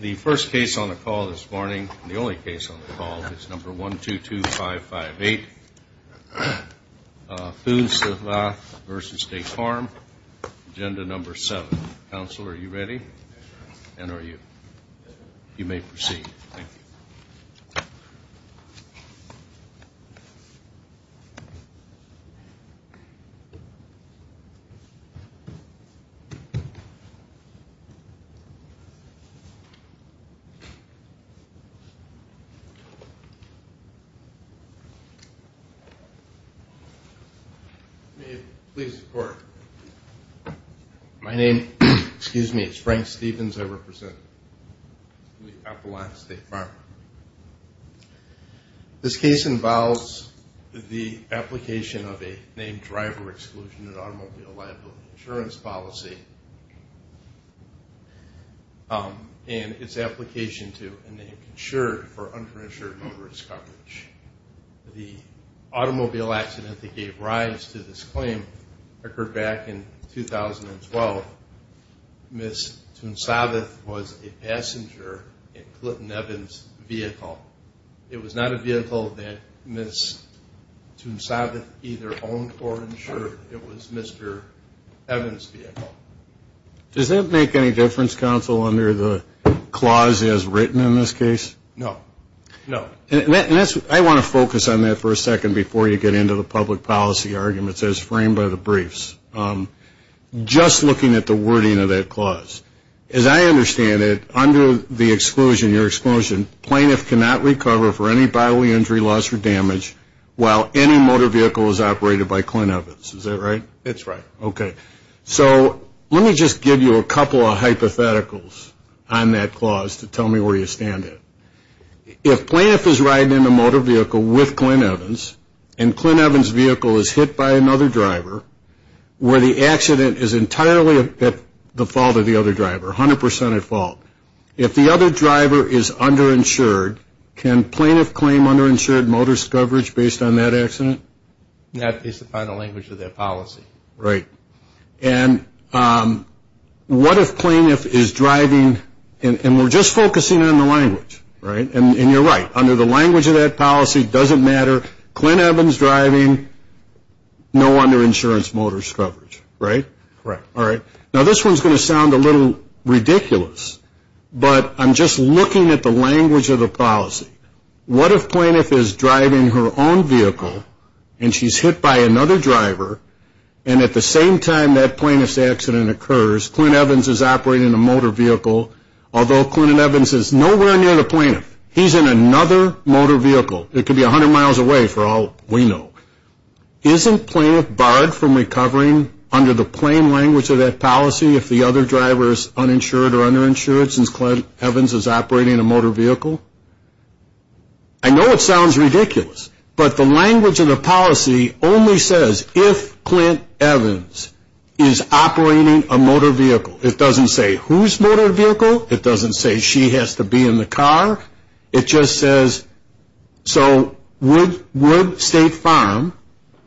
The first case on the call this morning, the only case on the call, is number 122558, Thounsavath v. State Farm, Agenda Number 7. Counsel, are you ready? And are you? You may proceed. Thank you. Please report. My name, excuse me, is Frank Stevens. I represent the Appalachian State Farm. This case involves the application of a named driver exclusion in automobile liability insurance policy and its application to a named insurer for underinsured motorist coverage. The automobile accident that gave rise to this claim occurred back in 2012. Ms. Thounsavath was a passenger in Clinton Evans' vehicle. It was not a vehicle that Ms. Thounsavath either owned or insured. It was Mr. Evans' vehicle. Does that make any difference, Counsel, under the clause as written in this case? No. No. I want to focus on that for a second before you get into the public policy arguments as framed by the briefs. Just looking at the wording of that clause, as I understand it, under the exclusion, your exclusion, plaintiff cannot recover for any bodily injury, loss, or damage while any motor vehicle is operated by Clinton Evans. Is that right? It's right. Okay. So let me just give you a couple of hypotheticals on that clause to tell me where you stand on it. If plaintiff is riding in a motor vehicle with Clinton Evans and Clinton Evans' vehicle is hit by another driver where the accident is entirely at the fault of the other driver, 100% at fault, if the other driver is underinsured, can plaintiff claim underinsured motorist coverage based on that accident? That is the final language of their policy. Right. And what if plaintiff is driving, and we're just focusing on the language, right? And you're right. Under the language of that policy, it doesn't matter. Clinton Evans driving, no underinsurance motorist coverage, right? Right. All right. Now, this one is going to sound a little ridiculous, but I'm just looking at the language of the policy. What if plaintiff is driving her own vehicle, and she's hit by another driver, and at the same time that plaintiff's accident occurs, Clinton Evans is operating a motor vehicle, although Clinton Evans is nowhere near the plaintiff. He's in another motor vehicle. It could be 100 miles away for all we know. Isn't plaintiff barred from recovering under the plain language of that policy if the other driver is uninsured or underinsured since Clinton Evans is operating a motor vehicle? I know it sounds ridiculous, but the language of the policy only says if Clinton Evans is operating a motor vehicle. It doesn't say whose motor vehicle. It doesn't say she has to be in the car. It just says, so would State Farm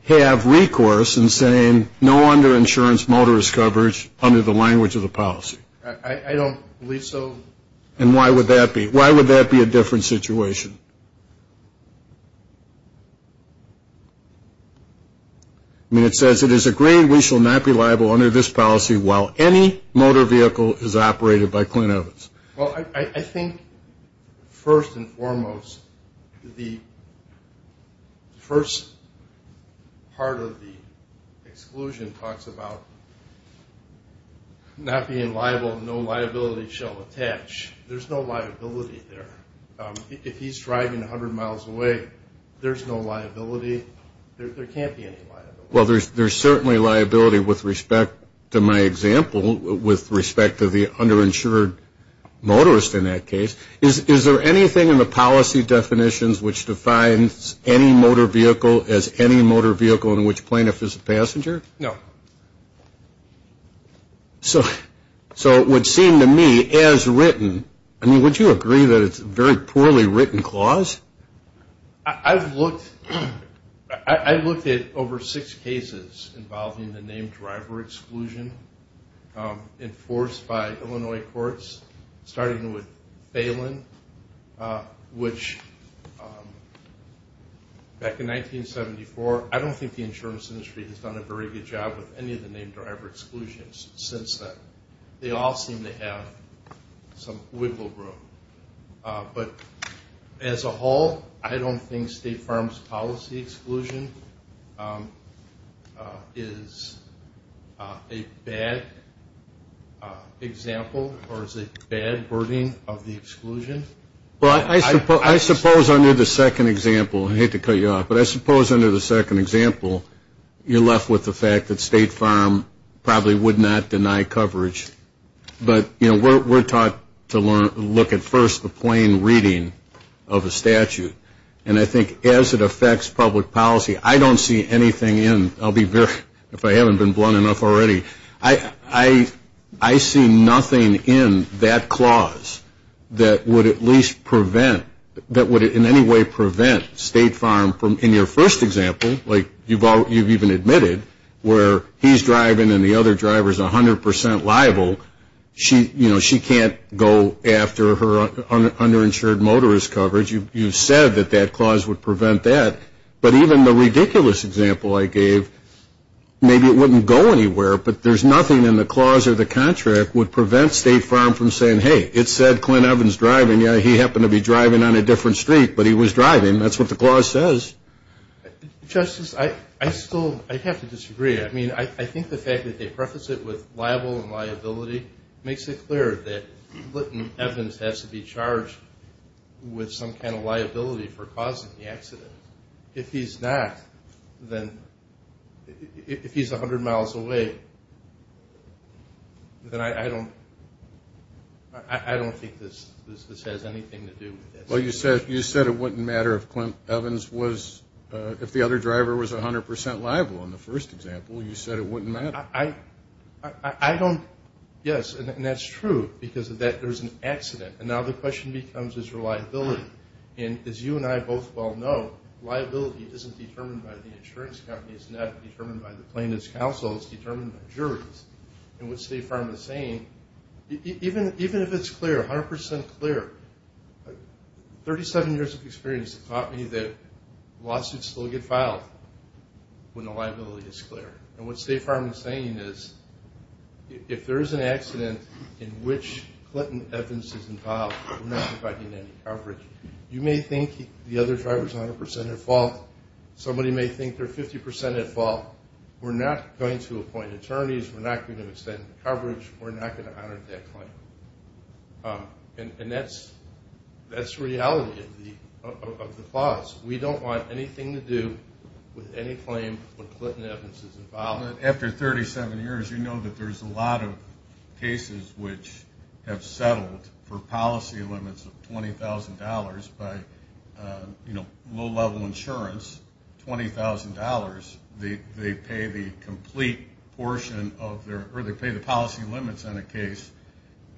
have recourse in saying no underinsurance motorist coverage under the language of the policy? I don't believe so. And why would that be? That would be a different situation. I mean, it says, it is agreed we shall not be liable under this policy while any motor vehicle is operated by Clinton Evans. Well, I think first and foremost, the first part of the exclusion talks about not being liable, no liability shall attach. There's no liability there. If he's driving 100 miles away, there's no liability. There can't be any liability. Well, there's certainly liability with respect to my example with respect to the underinsured motorist in that case. Is there anything in the policy definitions which defines any motor vehicle as any motor vehicle in which plaintiff is a passenger? No. So it would seem to me as written, I mean, would you agree that it's a very poorly written clause? I've looked at over six cases involving the named driver exclusion enforced by Illinois courts, starting with Phelan, which back in 1974, I don't think the insurance industry has done a very good job with any of the named driver exclusions since then. They all seem to have some wiggle room. But as a whole, I don't think State Farm's policy exclusion is a bad example or is a bad wording of the exclusion. Well, I suppose under the second example, I hate to cut you off, but I suppose under the second example, you're left with the fact that State Farm probably would not deny coverage. But, you know, we're taught to look at first the plain reading of a statute. And I think as it affects public policy, I don't see anything in, I'll be very, if I haven't been blunt enough already, I see nothing in that clause that would at least prevent, that would in any way prevent State Farm from, in your first example, like you've even admitted, where he's driving and the other driver's 100% liable, she can't go after her underinsured motorist coverage. You said that that clause would prevent that. But even the ridiculous example I gave, maybe it wouldn't go anywhere, but there's nothing in the clause or the contract would prevent State Farm from saying, hey, it said Clint Evans driving. Yeah, he happened to be driving on a different street, but he was driving. That's what the clause says. Justice, I still, I'd have to disagree. I mean, I think the fact that they preface it with liable and liability makes it clear that Clint Evans has to be charged with some kind of liability for causing the accident. If he's not, then, if he's 100 miles away, then I don't, I don't think this has anything to do with this. Well, you said it wouldn't matter if Clint Evans was, if the other driver was 100% liable in the first example, you said it wouldn't matter. I don't, yes, and that's true because of that, there's an accident. And now the question becomes, is there liability? And as you and I both well know, liability isn't determined by the insurance company. It's not determined by the plaintiff's counsel. It's determined by juries. And what State Farm is saying, even if it's clear, 100% clear, 37 years of experience have taught me that lawsuits still get filed when the liability is clear. And what State Farm is saying is, if there is an accident in which Clint Evans is involved, we're not providing any coverage. You may think the other driver is 100% at fault. Somebody may think they're 50% at fault. We're not going to appoint attorneys. We're not going to extend coverage. We're not going to honor that claim. And that's the reality of the clause. We don't want anything to do with any claim when Clint Evans is involved. After 37 years, you know that there's a lot of cases which have settled for policy limits of $20,000 by low-level insurance, $20,000. They pay the complete portion of their or they pay the policy limits on a case.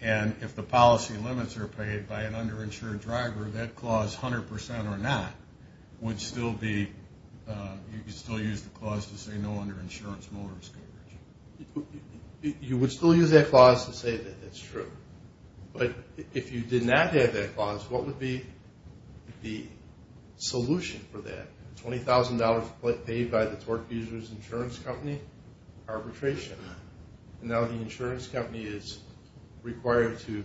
And if the policy limits are paid by an underinsured driver, that clause, 100% or not, would still be, you could still use the clause to say no underinsurance motorist coverage. You would still use that clause to say that it's true. But if you did not have that clause, what would be the solution for that? $20,000 paid by the torque user's insurance company, arbitration. Now the insurance company is required to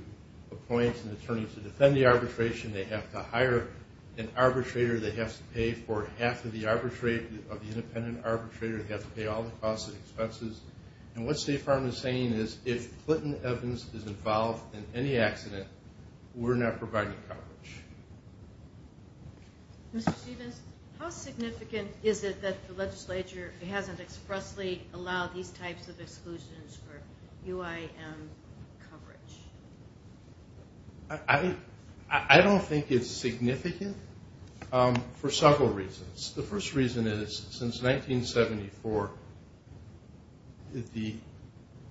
appoint an attorney to defend the arbitration. They have to hire an arbitrator. They have to pay for half of the arbitrate of the independent arbitrator. They have to pay all the costs and expenses. And what State Farm is saying is if Clinton Evans is involved in any accident, we're not providing coverage. Mr. Stevens, how significant is it that the legislature hasn't expressly allowed these types of exclusions for UIM coverage? I don't think it's significant for several reasons. The first reason is since 1974, the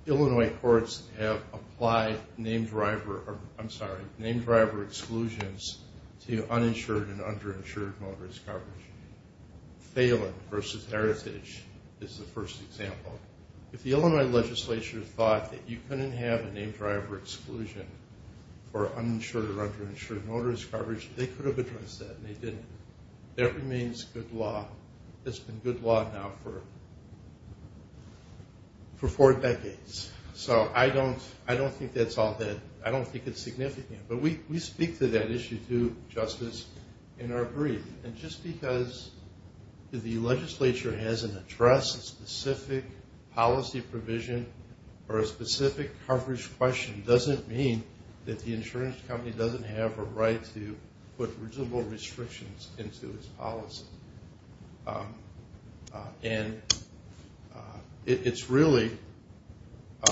Illinois courts have applied named driver, I'm sorry, named driver exclusions to uninsured and underinsured motorist coverage. Phelan versus Heritage is the first example. If the Illinois legislature thought that you couldn't have a named driver exclusion for uninsured or underinsured motorist coverage, they could have addressed that, and they didn't. That remains good law. It's been good law now for four decades. So I don't think that's all that – I don't think it's significant. But we speak to that issue, too, Justice, in our brief. And just because the legislature hasn't addressed a specific policy provision or a specific coverage question doesn't mean that the insurance company doesn't have a right to put reasonable restrictions into its policy. And it's really –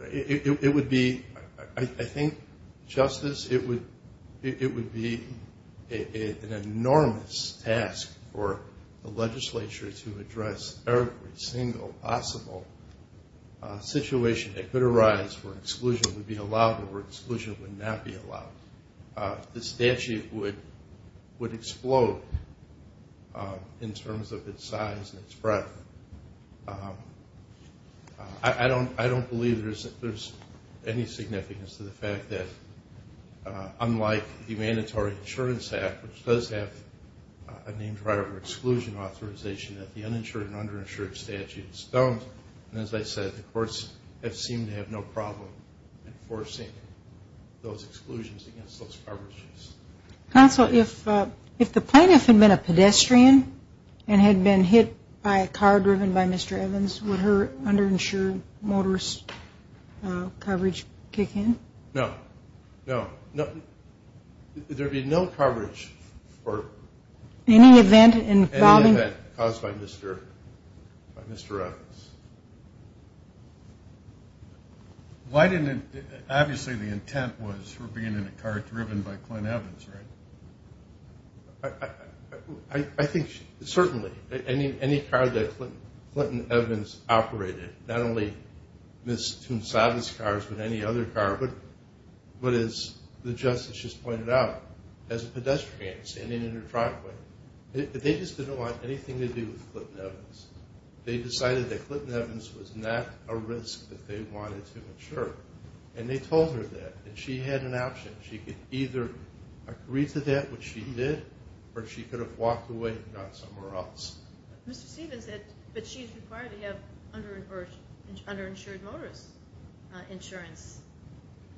it would be – I think, Justice, it would be an enormous task for the legislature to address every single possible situation that could arise where exclusion would be allowed or where exclusion would not be allowed. The statute would explode in terms of its size and its breadth. I don't believe there's any significance to the fact that, unlike the Mandatory Insurance Act, which does have a named driver exclusion authorization, that the uninsured and underinsured statutes don't. And as I said, the courts have seemed to have no problem enforcing those exclusions against those coverages. Counsel, if the plaintiff had been a pedestrian and had been hit by a car driven by Mr. Evans, would her underinsured motorist coverage kick in? No. No. There would be no coverage for – Any event involving – Why didn't – obviously the intent was for being in a car driven by Clint Evans, right? I think certainly. Any car that Clint Evans operated, not only Ms. Toon Savage's car but any other car, but as the Justice just pointed out, as a pedestrian standing in her driveway, they just didn't want anything to do with Clint Evans. They decided that Clint Evans was not a risk that they wanted to insure. And they told her that. And she had an option. She could either agree to that, which she did, or she could have walked away and gone somewhere else. Mr. Stevens said that she's required to have underinsured motorist insurance.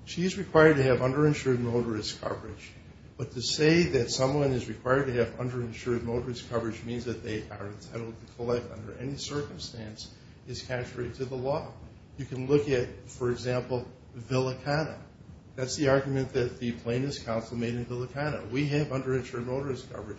She is required to have underinsured motorist coverage. But to say that someone is required to have underinsured motorist coverage means that they are entitled to collect under any circumstance is contrary to the law. You can look at, for example, Villicana. That's the argument that the Plaintiffs' Council made in Villicana. We have underinsured motorist coverage.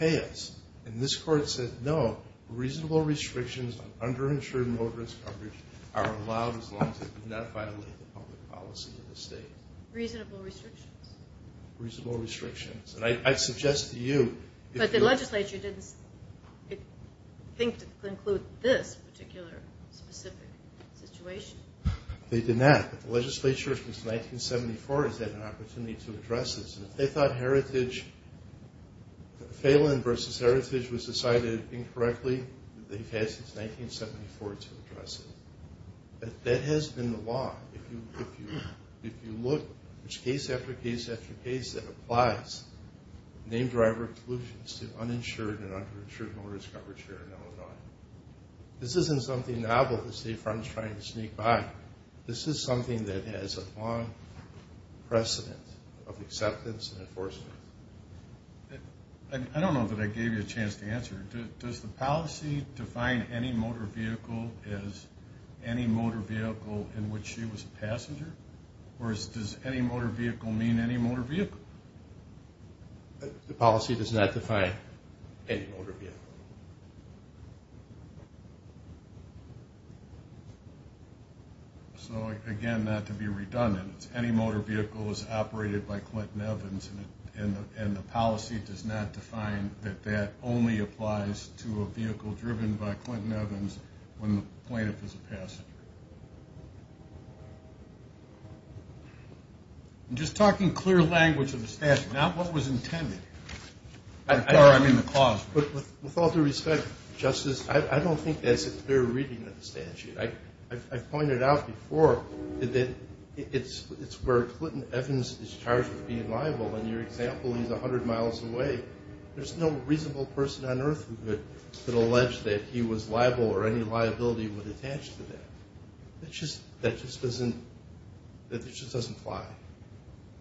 Pay us. And this Court said no. Reasonable restrictions on underinsured motorist coverage are allowed as long as they do not violate the public policy of the state. Reasonable restrictions? Reasonable restrictions. And I'd suggest to you if you're- But the legislature didn't think to include this particular specific situation. They did not. But the legislature, since 1974, has had an opportunity to address this. And if they thought heritage, Phelan versus heritage was decided incorrectly, they've had since 1974 to address it. But that has been the law. If you look, there's case after case after case that applies named driver exclusions to uninsured and underinsured motorist coverage here in Illinois. This isn't something novel that State Farm is trying to sneak by. This is something that has a long precedent of acceptance and enforcement. I don't know that I gave you a chance to answer. Does the policy define any motor vehicle as any motor vehicle in which she was a passenger? Or does any motor vehicle mean any motor vehicle? The policy does not define any motor vehicle. So, again, not to be redundant, any motor vehicle is operated by Clinton Evans, and the policy does not define that that only applies to a vehicle driven by Clinton Evans when the plaintiff is a passenger. I'm just talking clear language of the statute, not what was intended. Or I mean the clause. With all due respect, Justice, I don't think that's a clear reading of the statute. I pointed out before that it's where Clinton Evans is charged with being liable. In your example, he's 100 miles away. There's no reasonable person on earth who could allege that he was liable or any liability would attach to that. That just doesn't apply.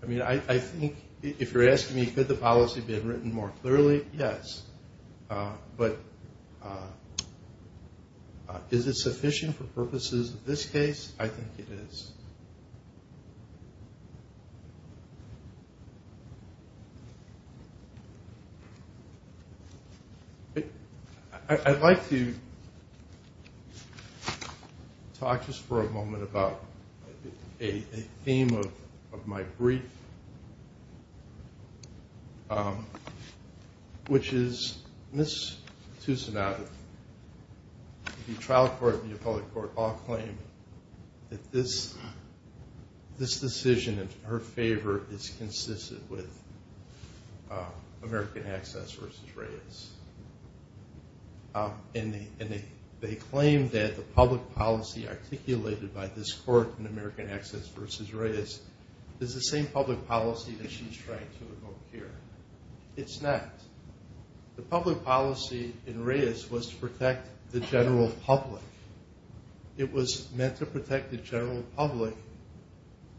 I mean, I think if you're asking me could the policy have been written more clearly, yes. But is it sufficient for purposes of this case? I think it is. I'd like to talk just for a moment about a theme of my brief, which is Ms. Tusanato. The trial court and the appellate court all claim that this decision in her favor is consistent with American Access v. Reyes. And they claim that the public policy articulated by this court in American Access v. Reyes is the same public policy that she's trying to invoke here. It's not. The public policy in Reyes was to protect the general public. It was meant to protect the general public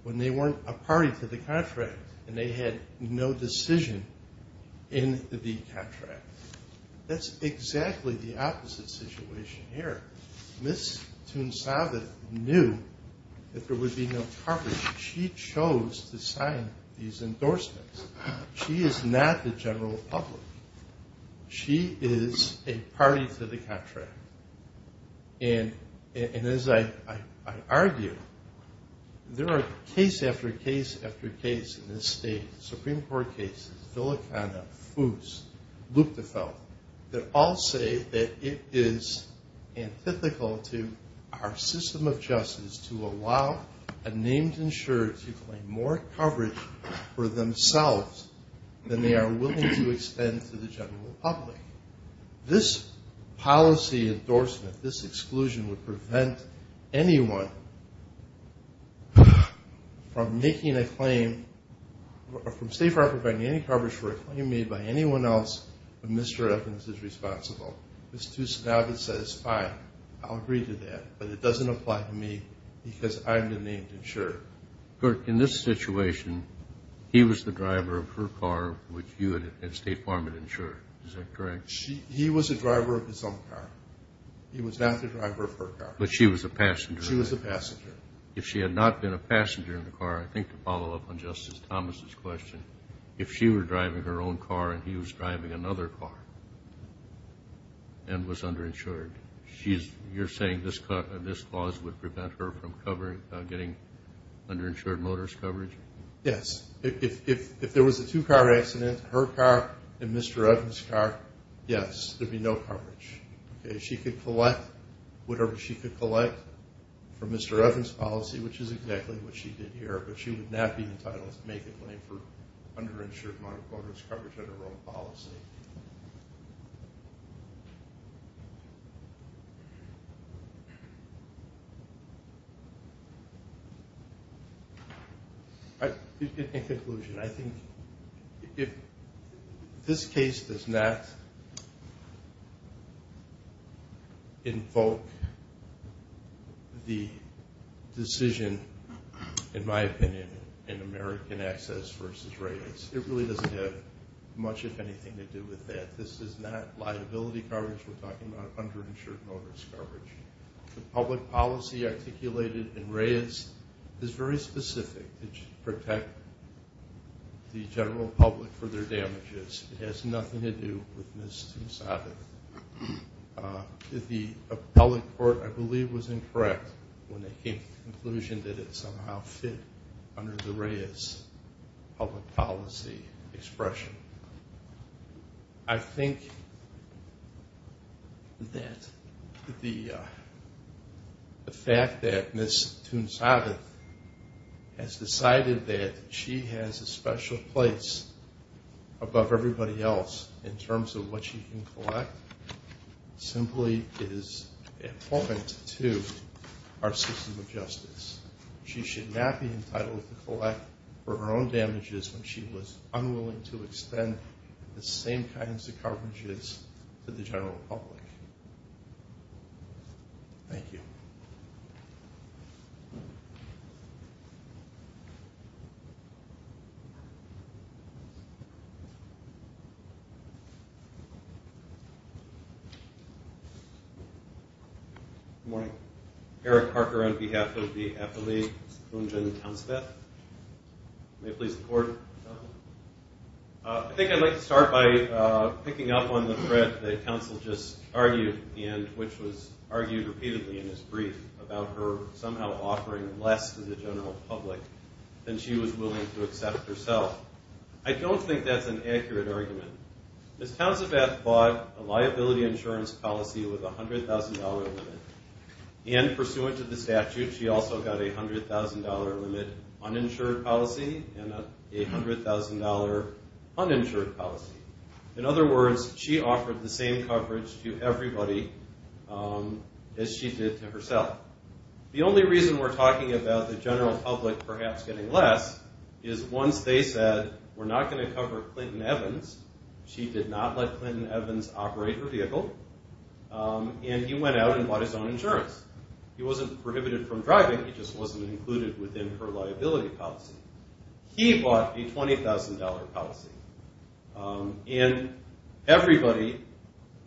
when they weren't a party to the contract and they had no decision in the contract. That's exactly the opposite situation here. Ms. Tusanato knew that there would be no coverage. She chose to sign these endorsements. She is not the general public. She is a party to the contract. And as I argue, there are case after case after case in this state, Supreme Court cases, Villicana, Foos, Luchtgefeld, that all say that it is antithetical to our system of justice to allow a named insurer to claim more coverage for themselves than they are willing to extend to the general public. This policy endorsement, this exclusion, would prevent anyone from making a claim, from State Farm providing any coverage for a claim made by anyone else when Mr. Evans is responsible. Ms. Tusanato says, fine, I'll agree to that, but it doesn't apply to me because I'm the named insurer. In this situation, he was the driver of her car, which you and State Farm had insured. Is that correct? He was the driver of his own car. He was not the driver of her car. But she was a passenger. She was a passenger. If she had not been a passenger in the car, I think to follow up on Justice Thomas' question, if she were driving her own car and he was driving another car and was underinsured, you're saying this clause would prevent her from getting underinsured motorist coverage? Yes. If there was a two-car accident, her car and Mr. Evans' car, yes, there would be no coverage. She could collect whatever she could collect from Mr. Evans' policy, which is exactly what she did here, but she would not be entitled to make a claim for underinsured motorist coverage under her own policy. In conclusion, I think if this case does not invoke the decision, in my opinion, in American Access v. Raids, it really doesn't have much, if anything, to do with that. This is not liability coverage. We're talking about underinsured motorist coverage. The public policy articulated in Raids is very specific. It should protect the general public for their damages. It has nothing to do with Ms. Tomsato. The appellate court, I believe, was incorrect when they came to the conclusion that it somehow fit under the Raids public policy expression. I think that the fact that Ms. Tomsato has decided that she has a special place above everybody else in terms of what she can collect simply is a point to our system of justice. She should not be entitled to collect for her own damages when she was unwilling to extend the same kinds of coverages to the general public. Thank you. Good morning. Eric Harker on behalf of the Appellate Council. May I please record? I think I'd like to start by picking up on the thread that counsel just argued, which was argued repeatedly in his brief about her somehow offering less to the general public than she was willing to accept herself. I don't think that's an accurate argument. Ms. Tomsato bought a liability insurance policy with a $100,000 limit, and pursuant to the statute, she also got a $100,000 limit uninsured policy and a $100,000 uninsured policy. In other words, she offered the same coverage to everybody as she did to herself. The only reason we're talking about the general public perhaps getting less is once they said, we're not going to cover Clinton Evans, she did not let Clinton Evans operate her vehicle, and he went out and bought his own insurance. He wasn't prohibited from driving, he just wasn't included within her liability policy. He bought a $20,000 policy, and everybody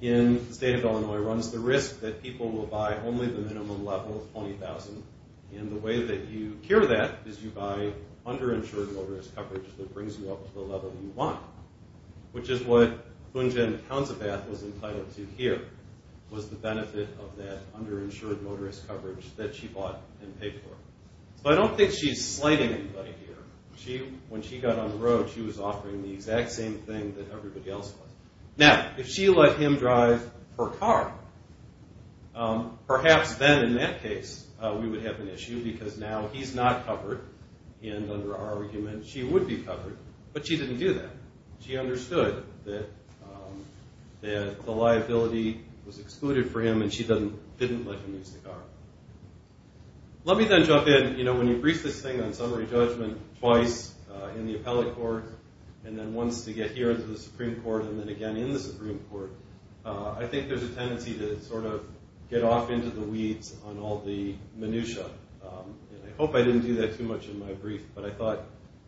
in the state of Illinois runs the risk that people will buy only the minimum level of $20,000, and the way that you cure that is you buy underinsured motorist coverage that brings you up to the level you want, which is what Boon Jen Hounsabath was entitled to here, was the benefit of that underinsured motorist coverage that she bought and paid for. So I don't think she's slighting anybody here. When she got on the road, she was offering the exact same thing that everybody else was. Now, if she let him drive her car, perhaps then in that case we would have an issue, because now he's not covered, and under our argument she would be covered, but she didn't do that. She understood that the liability was excluded for him, and she didn't let him use the car. Let me then jump in. You know, when you brief this thing on summary judgment twice, in the appellate court, and then once to get here into the Supreme Court, and then again in the Supreme Court, I think there's a tendency to sort of get off into the weeds on all the minutiae, and I hope I didn't do that too much in my brief, but I thought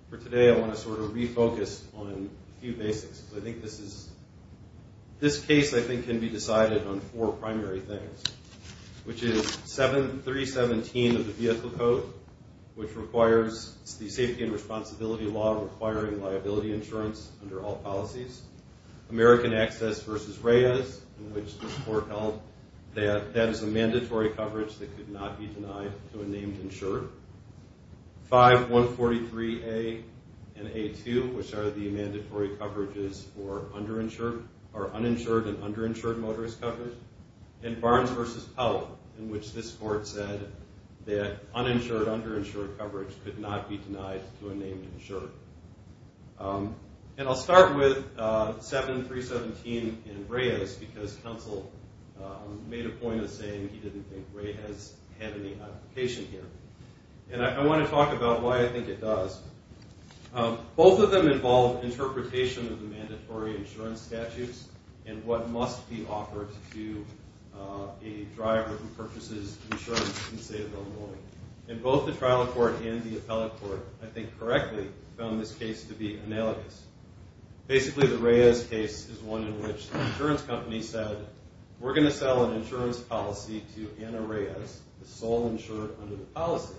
for today I want to sort of refocus on a few basics. I think this case, I think, can be decided on four primary things, which is 317 of the Vehicle Code, which requires the safety and responsibility law requiring liability insurance under all policies. American Access v. Reyes, in which the court held that that is a mandatory coverage that could not be denied to a named insured. 5143A and A2, which are the mandatory coverages for uninsured and underinsured motorist coverage. And Barnes v. Powell, in which this court said that uninsured, underinsured coverage could not be denied to a named insured. And I'll start with 7317 in Reyes, because counsel made a point of saying he didn't think Reyes had any application here. And I want to talk about why I think it does. Both of them involve interpretation of the mandatory insurance statutes and what must be offered to a driver who purchases insurance in the state of Illinois. And both the trial court and the appellate court, I think correctly, found this case to be analogous. Basically, the Reyes case is one in which the insurance company said, We're going to sell an insurance policy to Anna Reyes, the sole insured under the policy.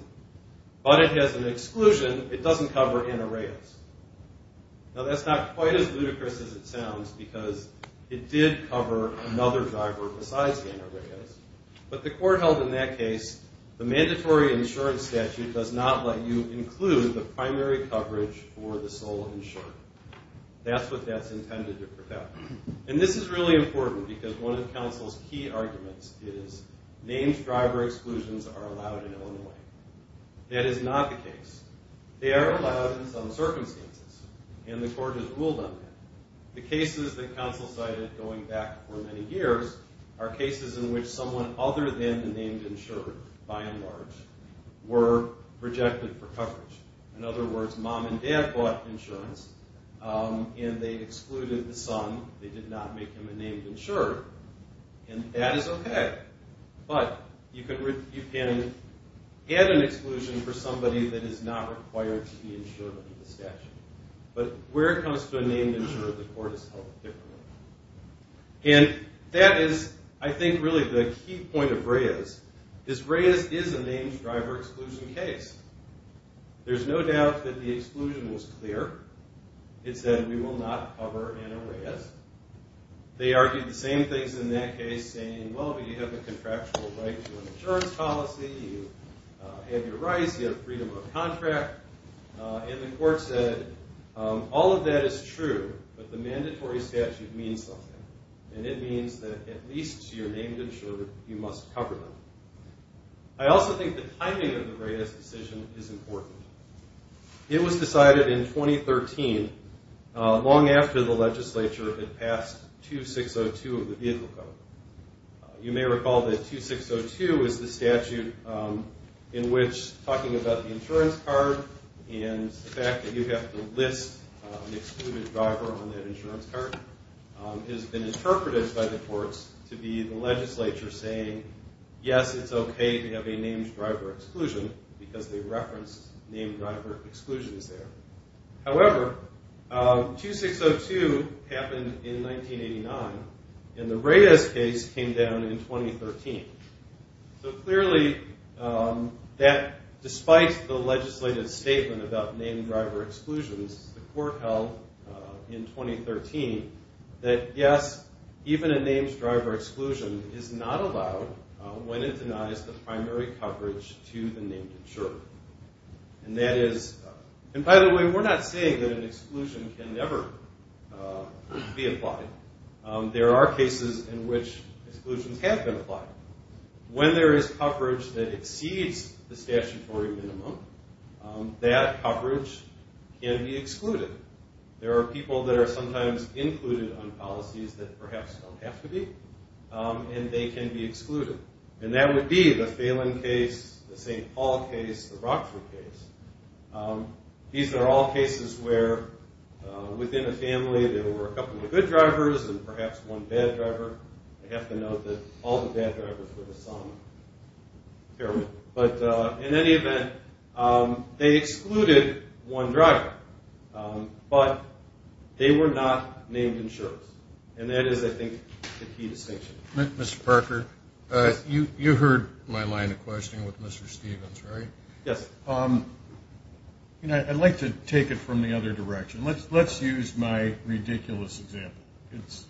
But it has an exclusion. It doesn't cover Anna Reyes. Now, that's not quite as ludicrous as it sounds, because it did cover another driver besides Anna Reyes. But the court held in that case the mandatory insurance statute does not let you include the primary coverage for the sole insured. That's what that's intended to protect. And this is really important, because one of counsel's key arguments is named driver exclusions are allowed in Illinois. That is not the case. They are allowed in some circumstances, and the court has ruled on that. The cases that counsel cited going back for many years are cases in which someone other than the named insured, by and large, were rejected for coverage. In other words, mom and dad bought insurance, and they excluded the son. They did not make him a named insured. And that is OK. But you can add an exclusion for somebody that is not required to be insured under the statute. But where it comes to a named insured, the court has held it differently. And that is, I think, really the key point of Reyes, is Reyes is a named driver exclusion case. There's no doubt that the exclusion was clear. It said, we will not cover Anna Reyes. They argued the same things in that case, saying, well, you have a contractual right to an insurance policy. You have your rights. You have freedom of contract. And the court said, all of that is true, but the mandatory statute means something. And it means that at least your named insured, you must cover them. I also think the timing of the Reyes decision is important. It was decided in 2013, long after the legislature had passed 2602 of the Vehicle Code. You may recall that 2602 is the statute in which talking about the insurance card and the fact that you have to list an excluded driver on that insurance card has been interpreted by the courts to be the legislature saying, yes, it's okay to have a named driver exclusion, because they referenced named driver exclusions there. However, 2602 happened in 1989, and the Reyes case came down in 2013. So clearly, that, despite the legislative statement about named driver exclusions, the court held in 2013 that, yes, even a named driver exclusion is not allowed when it denies the primary coverage to the named insured. And that is – and by the way, we're not saying that an exclusion can never be applied. There are cases in which exclusions have been applied. When there is coverage that exceeds the statutory minimum, that coverage can be excluded. There are people that are sometimes included on policies that perhaps don't have to be, and they can be excluded. And that would be the Phelan case, the St. Paul case, the Rockford case. These are all cases where, within a family, there were a couple of good drivers and perhaps one bad driver. I have to note that all the bad drivers were the same. But in any event, they excluded one driver, but they were not named insurers. And that is, I think, the key distinction. Mr. Parker, you heard my line of questioning with Mr. Stevens, right? Yes. I'd like to take it from the other direction. Let's use my ridiculous example.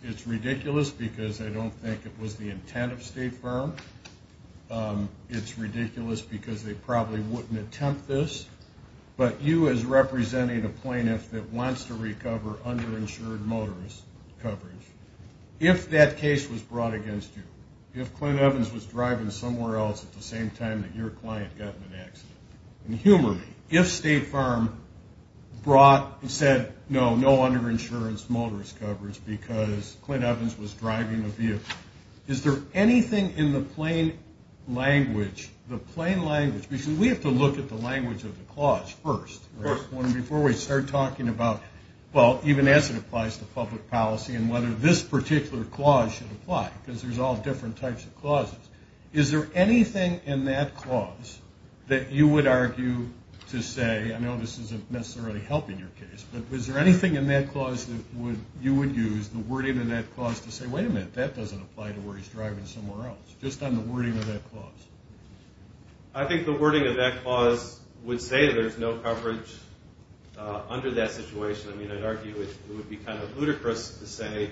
It's ridiculous because I don't think it was the intent of State Farm. It's ridiculous because they probably wouldn't attempt this. But you, as representing a plaintiff that wants to recover underinsured motorist coverage, if that case was brought against you, if Clint Evans was driving somewhere else at the same time that your client got in an accident, and humor me, if State Farm brought and said, no, no underinsurance motorist coverage because Clint Evans was driving a vehicle, is there anything in the plain language, the plain language, because we have to look at the language of the clause first. Before we start talking about, well, even as it applies to public policy and whether this particular clause should apply, because there's all different types of clauses, is there anything in that clause that you would argue to say, I know this isn't necessarily helping your case, but is there anything in that clause that you would use, the wording in that clause, to say, wait a minute, that doesn't apply to where he's driving somewhere else, just on the wording of that clause? I think the wording of that clause would say that there's no coverage under that situation. I mean, I'd argue it would be kind of ludicrous to say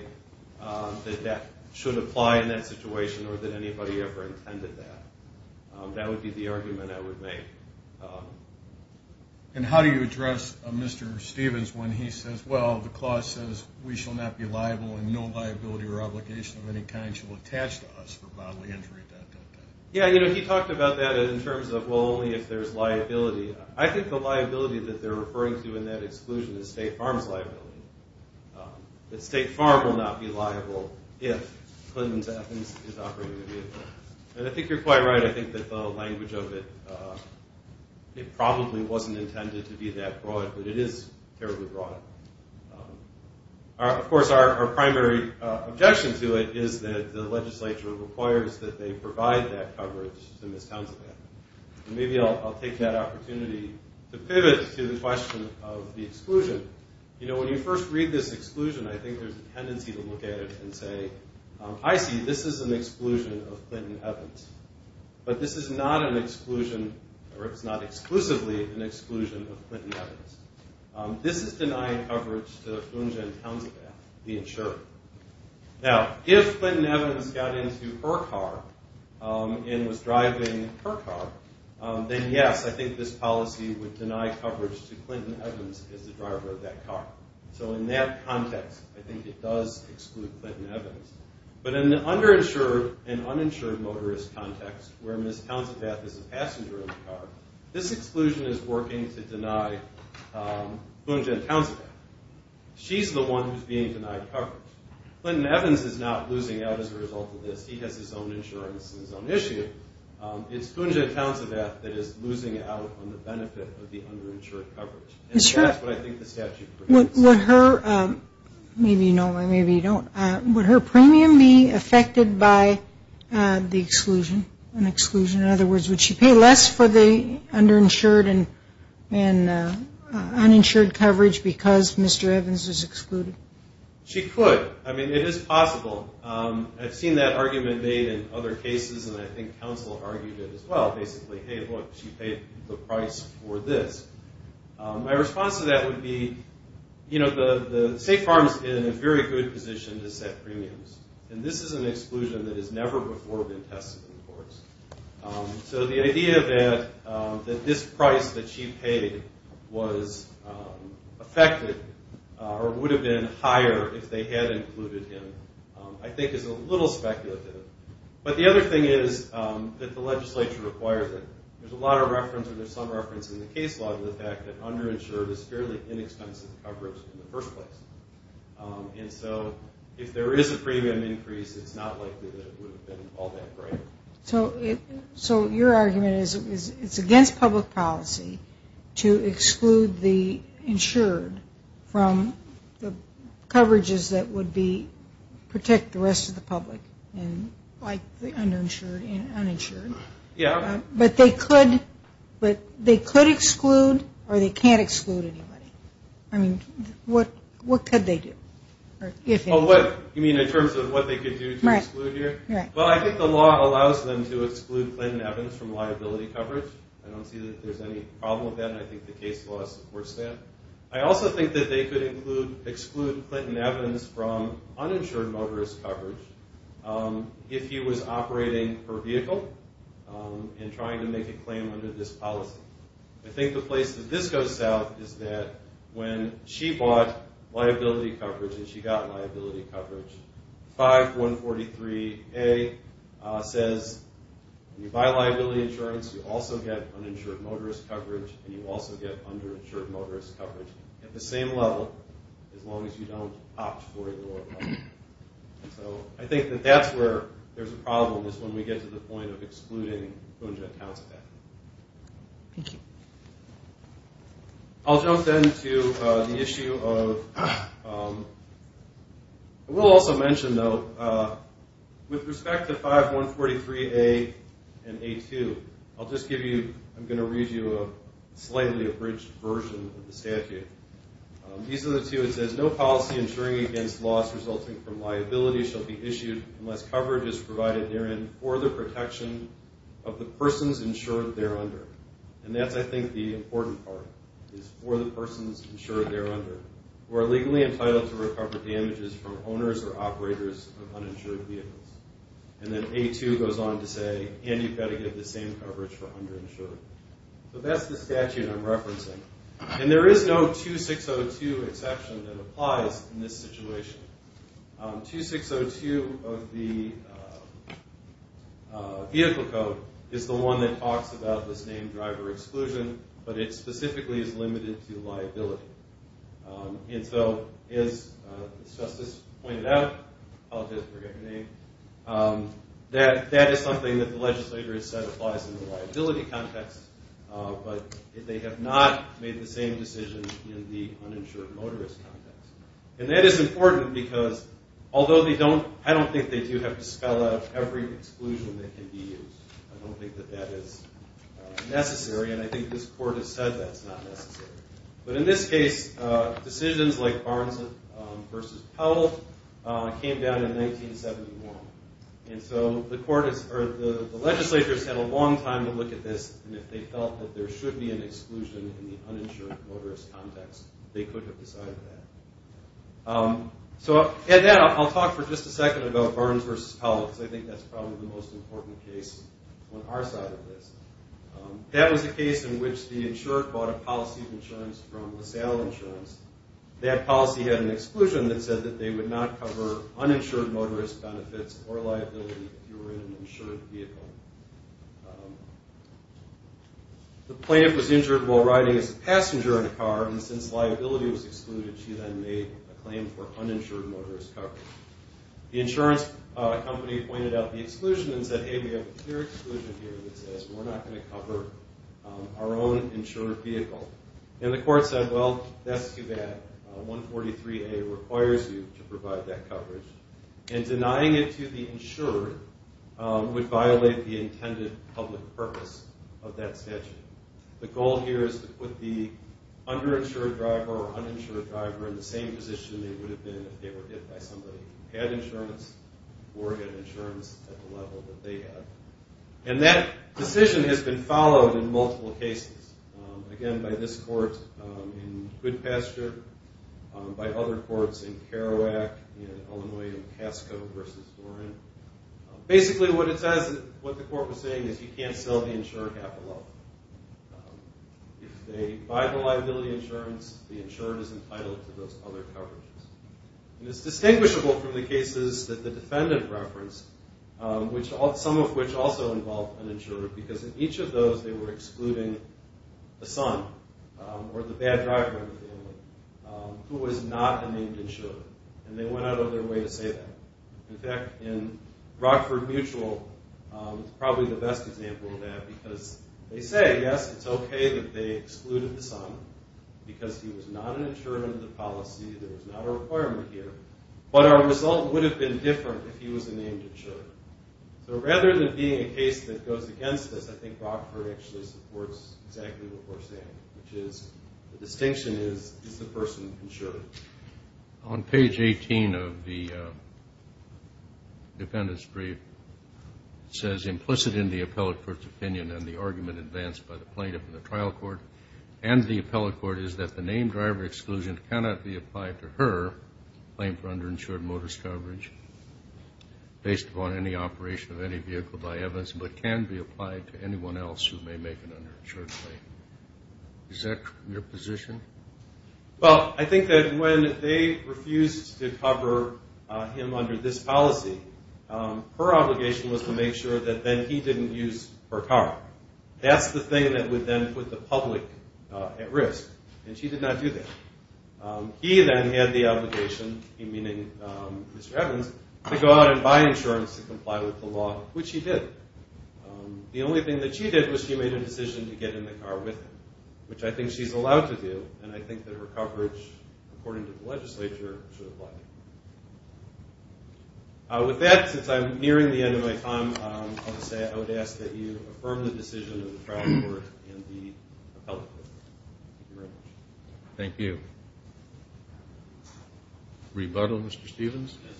that that should apply in that situation or that anybody ever intended that. That would be the argument I would make. And how do you address Mr. Stevens when he says, well, the clause says, we shall not be liable in no liability or obligation of any kind shall attach to us for bodily injury, dot, dot, dot. Yeah, you know, he talked about that in terms of, well, only if there's liability. I think the liability that they're referring to in that exclusion is State Farm's liability, that State Farm will not be liable if Clinton's Athens is operating a vehicle. And I think you're quite right. I think that the language of it, it probably wasn't intended to be that broad, but it is terribly broad. Of course, our primary objection to it is that the legislature requires that they provide that coverage to Ms. Townsend's Athens. And maybe I'll take that opportunity to pivot to the question of the exclusion. You know, when you first read this exclusion, I think there's a tendency to look at it and say, I see, this is an exclusion of Clinton-Evans. But this is not an exclusion, or it's not exclusively an exclusion of Clinton-Evans. This is denying coverage to Eugen Townsend, the insurer. Now, if Clinton-Evans got into her car and was driving her car, then yes, I think this policy would deny coverage to Clinton-Evans as the driver of that car. So in that context, I think it does exclude Clinton-Evans. But in an underinsured and uninsured motorist context where Ms. Townsend-Bath is a passenger in the car, this exclusion is working to deny Eugen Townsend-Bath. She's the one who's being denied coverage. Clinton-Evans is not losing out as a result of this. He has his own insurance and his own issue. It's Eugen Townsend-Bath that is losing out on the benefit of the underinsured coverage. And that's what I think the statute prohibits. Would her premium be affected by the exclusion, an exclusion? In other words, would she pay less for the underinsured and uninsured coverage because Mr. Evans is excluded? She could. I mean, it is possible. I've seen that argument made in other cases, and I think counsel argued it as well. Basically, hey, look, she paid the price for this. My response to that would be, you know, State Farm's in a very good position to set premiums. And this is an exclusion that has never before been tested in courts. So the idea that this price that she paid was affected or would have been higher if they had included him I think is a little speculative. But the other thing is that the legislature requires it. There's a lot of reference or there's some reference in the case law to the fact that underinsured is fairly inexpensive coverage in the first place. And so if there is a premium increase, it's not likely that it would have been all that great. So your argument is it's against public policy to exclude the insured from the coverages that would protect the rest of the public, like the uninsured and uninsured. Yeah. But they could exclude or they can't exclude anybody. I mean, what could they do? You mean in terms of what they could do to exclude you? Right. Well, I think the law allows them to exclude Clinton Evans from liability coverage. I don't see that there's any problem with that, and I think the case law supports that. I also think that they could exclude Clinton Evans from uninsured motorist coverage if he was operating her vehicle and trying to make a claim under this policy. I think the place that this goes south is that when she bought liability coverage and she got liability coverage, 5143A says when you buy liability insurance, you also get uninsured motorist coverage, and you also get underinsured motorist coverage at the same level as long as you don't opt for a lower coverage. So I think that that's where there's a problem is when we get to the point of excluding Boone Jett Townsend. Thank you. I'll jump then to the issue of – I will also mention, though, with respect to 5143A and A2, I'll just give you – I'm going to read you a slightly abridged version of the statute. These are the two. It says, no policy insuring against loss resulting from liability shall be issued unless coverage is provided therein for the protection of the persons insured thereunder. And that's, I think, the important part is for the persons insured thereunder who are legally entitled to recover damages from owners or operators of uninsured vehicles. And then A2 goes on to say, and you've got to give the same coverage for underinsured. So that's the statute I'm referencing. And there is no 2602 exception that applies in this situation. 2602 of the Vehicle Code is the one that talks about this named driver exclusion, but it specifically is limited to liability. And so, as Justice pointed out – I'll just forget your name – that is something that the legislature has said applies in the liability context. But they have not made the same decision in the uninsured motorist context. And that is important because, although they don't – I don't think they do have to spell out every exclusion that can be used. I don't think that that is necessary, and I think this Court has said that's not necessary. But in this case, decisions like Barnes v. Powell came down in 1971. And so the legislature has had a long time to look at this, and if they felt that there should be an exclusion in the uninsured motorist context, they could have decided that. So, I'll talk for just a second about Barnes v. Powell, because I think that's probably the most important case on our side of this. That was a case in which the insured bought a policy of insurance from LaSalle Insurance. That policy had an exclusion that said that they would not cover uninsured motorist benefits or liability if you were in an insured vehicle. The plaintiff was injured while riding as a passenger in a car, and since liability was excluded, she then made a claim for uninsured motorist coverage. The insurance company pointed out the exclusion and said, hey, we have a clear exclusion here that says we're not going to cover our own insured vehicle. And the court said, well, that's too bad. 143A requires you to provide that coverage. And denying it to the insured would violate the intended public purpose of that statute. The goal here is to put the underinsured driver or uninsured driver in the same position they would have been if they were hit by somebody who had insurance or had insurance at the level that they had. And that decision has been followed in multiple cases. Again, by this court in Goodpasture, by other courts in Kerouac, in Illinois, in Casco versus Doran. Basically, what it says, what the court was saying is you can't sell the insured at the level. If they buy the liability insurance, the insured is entitled to those other coverages. And it's distinguishable from the cases that the defendant referenced, some of which also involved an insurer, because in each of those they were excluding a son or the bad driver in the family who was not a named insurer. And they went out of their way to say that. In fact, in Rockford Mutual, it's probably the best example of that because they say, yes, it's okay that they excluded the son because he was not an insurer under the policy. There was not a requirement here. But our result would have been different if he was a named insurer. So rather than being a case that goes against this, I think Rockford actually supports exactly what we're saying, which is the distinction is, is the person insured? On page 18 of the defendant's brief, it says, implicit in the appellate court's opinion and the argument advanced by the plaintiff in the trial court and the appellate court, is that the named driver exclusion cannot be applied to her claim for underinsured motorist coverage based upon any operation of any vehicle by evidence, but can be applied to anyone else who may make an underinsured claim. Is that your position? Well, I think that when they refused to cover him under this policy, her obligation was to make sure that then he didn't use her car. That's the thing that would then put the public at risk. And she did not do that. He then had the obligation, meaning Mr. Evans, to go out and buy insurance to comply with the law, which he did. The only thing that she did was she made a decision to get in the car with him, which I think she's allowed to do, and I think that her coverage, according to the legislature, should apply. With that, since I'm nearing the end of my time, I would say I would ask that you affirm the decision of the trial court and the appellate court. Thank you very much. Thank you. Rebuttal, Mr. Stevens? Yes.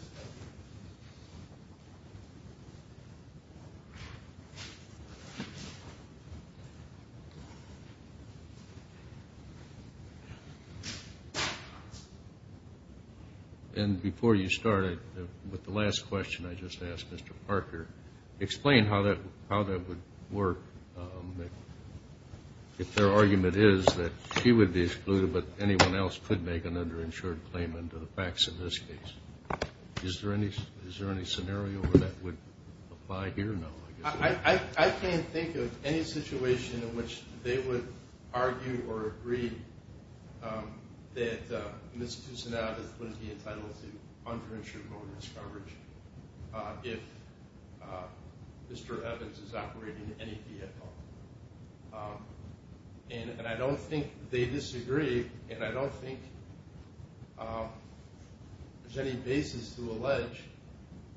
And before you start, with the last question I just asked Mr. Parker, explain how that would work, if their argument is that she would be excluded but anyone else could make an underinsured claim under the facts in this case. Is there any scenario where that would apply here? I can't think of any situation in which they would argue or agree that Ms. Kusinatis wouldn't be entitled to underinsured motorist coverage if Mr. Evans is operating any vehicle. And I don't think they disagree, and I don't think there's any basis to allege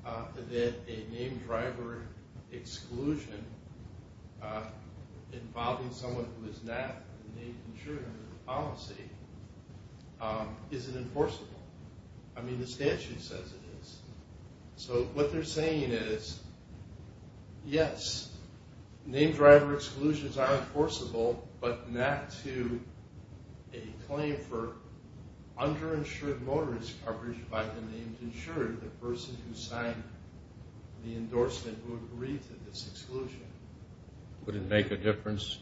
that a name driver exclusion involving someone who is not made insured under the policy isn't enforceable. I mean, the statute says it is. So what they're saying is, yes, name driver exclusions are enforceable, but not to a claim for underinsured motorist coverage by the named insured, the person who signed the endorsement who agreed to this exclusion. Would it make a difference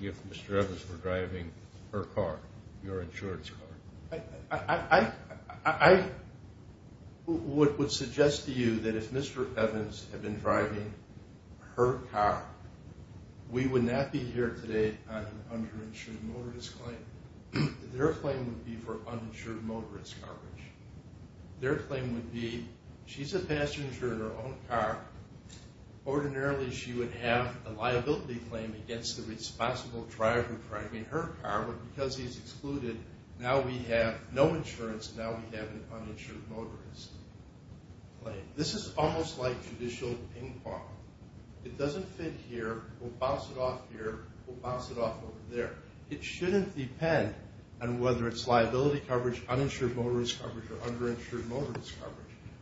if Mr. Evans were driving her car, your insurance car? I would suggest to you that if Mr. Evans had been driving her car, we would not be here today on an underinsured motorist claim. Their claim would be for uninsured motorist coverage. Their claim would be, she's a passenger in her own car. Ordinarily, she would have a liability claim against the responsible driver driving her car, but because he's excluded, now we have no insurance. Now we have an uninsured motorist claim. This is almost like judicial ping-pong. It doesn't fit here. We'll bounce it off here. We'll bounce it off over there. It shouldn't depend on whether it's liability coverage, uninsured motorist coverage, or underinsured motorist coverage.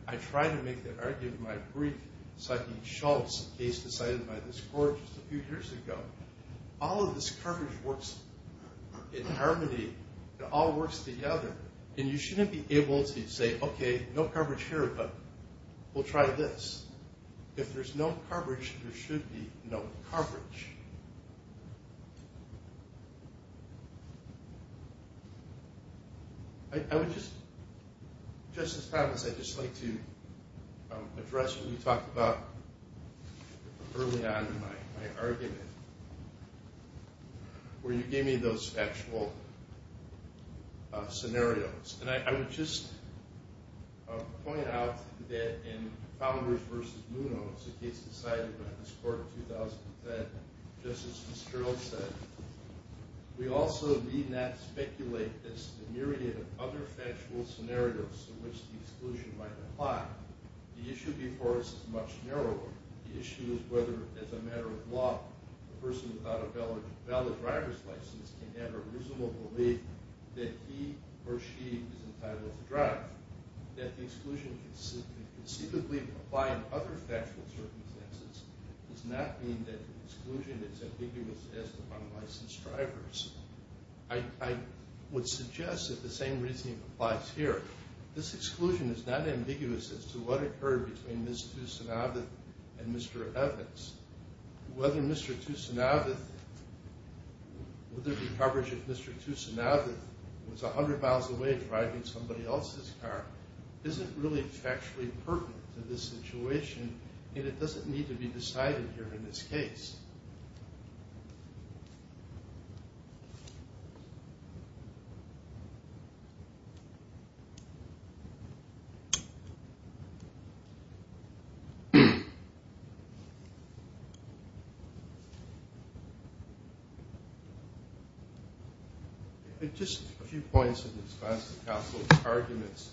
I tried to make that argument in my brief psyching Schultz, a case decided by this court just a few years ago. All of this coverage works in harmony. It all works together. And you shouldn't be able to say, okay, no coverage here, but we'll try this. If there's no coverage, there should be no coverage. I would just, Justice Thomas, I'd just like to address what you talked about early on in my argument, where you gave me those factual scenarios. And I would just point out that in Fowlers v. Munoz, a case decided by this court in 2010, Justice Fitzgerald said, we also need not speculate as to the myriad of other factual scenarios in which the exclusion might apply. The issue before us is much narrower. The issue is whether, as a matter of law, a person without a valid driver's license can have a reasonable belief that he or she is entitled to drive, that the exclusion can conceivably apply in other factual circumstances, does not mean that the exclusion is ambiguous as to unlicensed drivers. I would suggest that the same reasoning applies here. This exclusion is not ambiguous as to what occurred between Ms. Tusanavath and Mr. Evans. Whether Mr. Tusanavath, whether the coverage of Mr. Tusanavath was 100 miles away driving somebody else's car isn't really factually pertinent to this situation, and it doesn't need to be decided here in this case. Just a few points in response to counsel's arguments.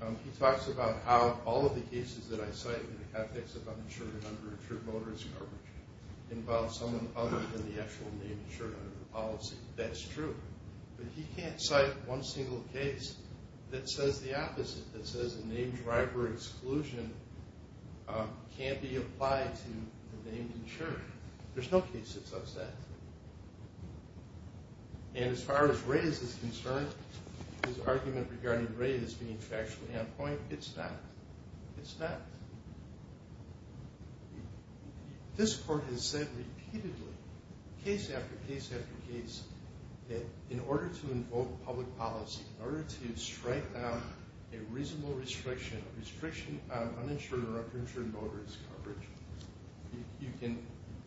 He talks about how all of the cases that I cite in the context of uninsured under insured motorist coverage involve someone other than the actual named insured under the policy. That's true. But he can't cite one single case that says the opposite, that says a named driver exclusion can't be applied to the named insured. There's no case that says that. And as far as Ray's is concerned, his argument regarding Ray as being factually on point, it's not. It's not. This court has said repeatedly, case after case after case, that in order to invoke public policy, in order to strike down a reasonable restriction, a restriction on uninsured or underinsured motorist coverage, you can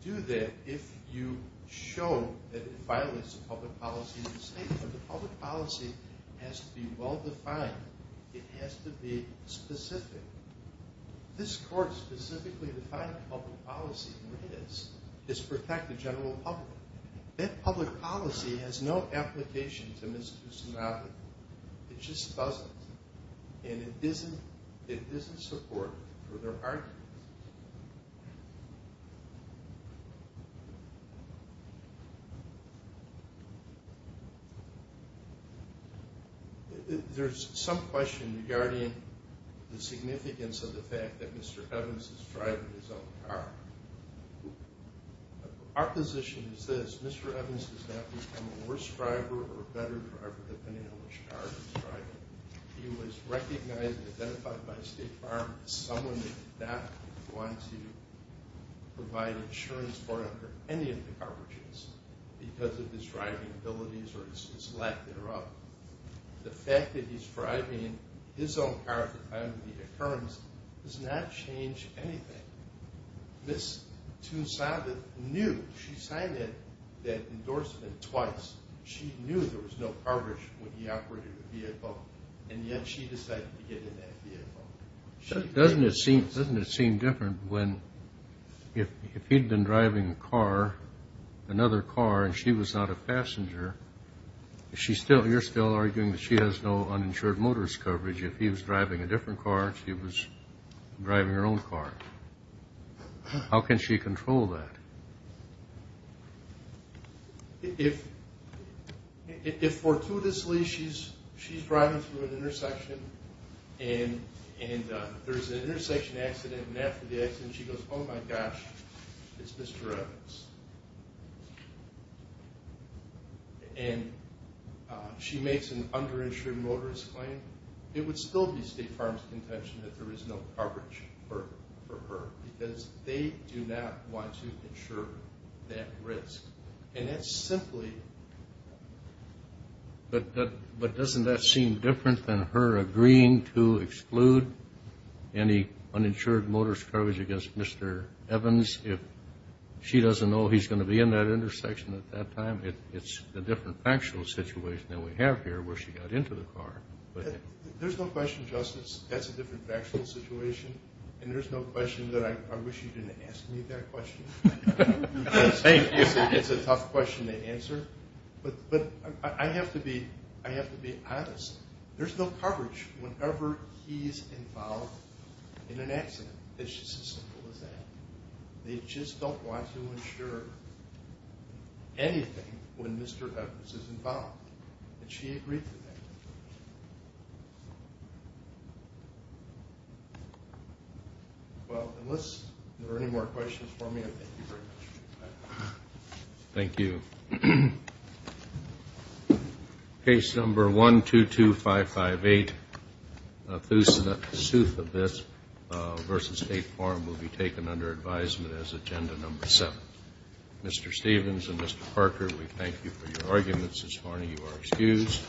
do that if you show that it violates the public policy of the state. But the public policy has to be well defined. It has to be specific. This court specifically defined public policy, and it is. It's to protect the general public. That public policy has no application to Ms. Kusunagi. It just doesn't. And it doesn't support her argument. There's some question regarding the significance of the fact that Mr. Evans is driving his own car. Our position is this. Mr. Evans has not become a worse driver or a better driver than any other driver. He was recognized and identified by State Farm as someone who did not want to provide insurance for him for any of the coverages because of his driving abilities or his lack thereof. The fact that he's driving his own car at the time of the occurrence does not change anything. Ms. Tunesavith knew. She signed that endorsement twice. She knew there was no coverage when he operated the vehicle, and yet she decided to get in that vehicle. Doesn't it seem different when if he'd been driving a car, another car, and she was not a passenger, you're still arguing that she has no uninsured motorist coverage. If he was driving a different car, she was driving her own car. How can she control that? If, fortuitously, she's driving through an intersection, and there's an intersection accident, and after the accident she goes, oh my gosh, it's Mr. Evans, and she makes an underinsured motorist claim, it would still be State Farm's contention that there is no coverage for her because they do not want to insure that risk. And that's simply... But doesn't that seem different than her agreeing to exclude any uninsured motorist coverage against Mr. Evans if she doesn't know he's going to be in that intersection at that time? It's a different factual situation than we have here where she got into the car. There's no question, Justice, that's a different factual situation, and there's no question that I wish you didn't ask me that question. It's a tough question to answer. But I have to be honest. There's no coverage whenever he's involved in an accident. It's just as simple as that. They just don't want to insure anything when Mr. Evans is involved. Did she agree to that? Well, unless there are any more questions for me, I thank you very much. Thank you. Case number 122558, the sooth of this versus State Farm will be taken under advisement as agenda number seven. Mr. Stevens and Mr. Parker, we thank you for your arguments. Ms. Harney, you are excused.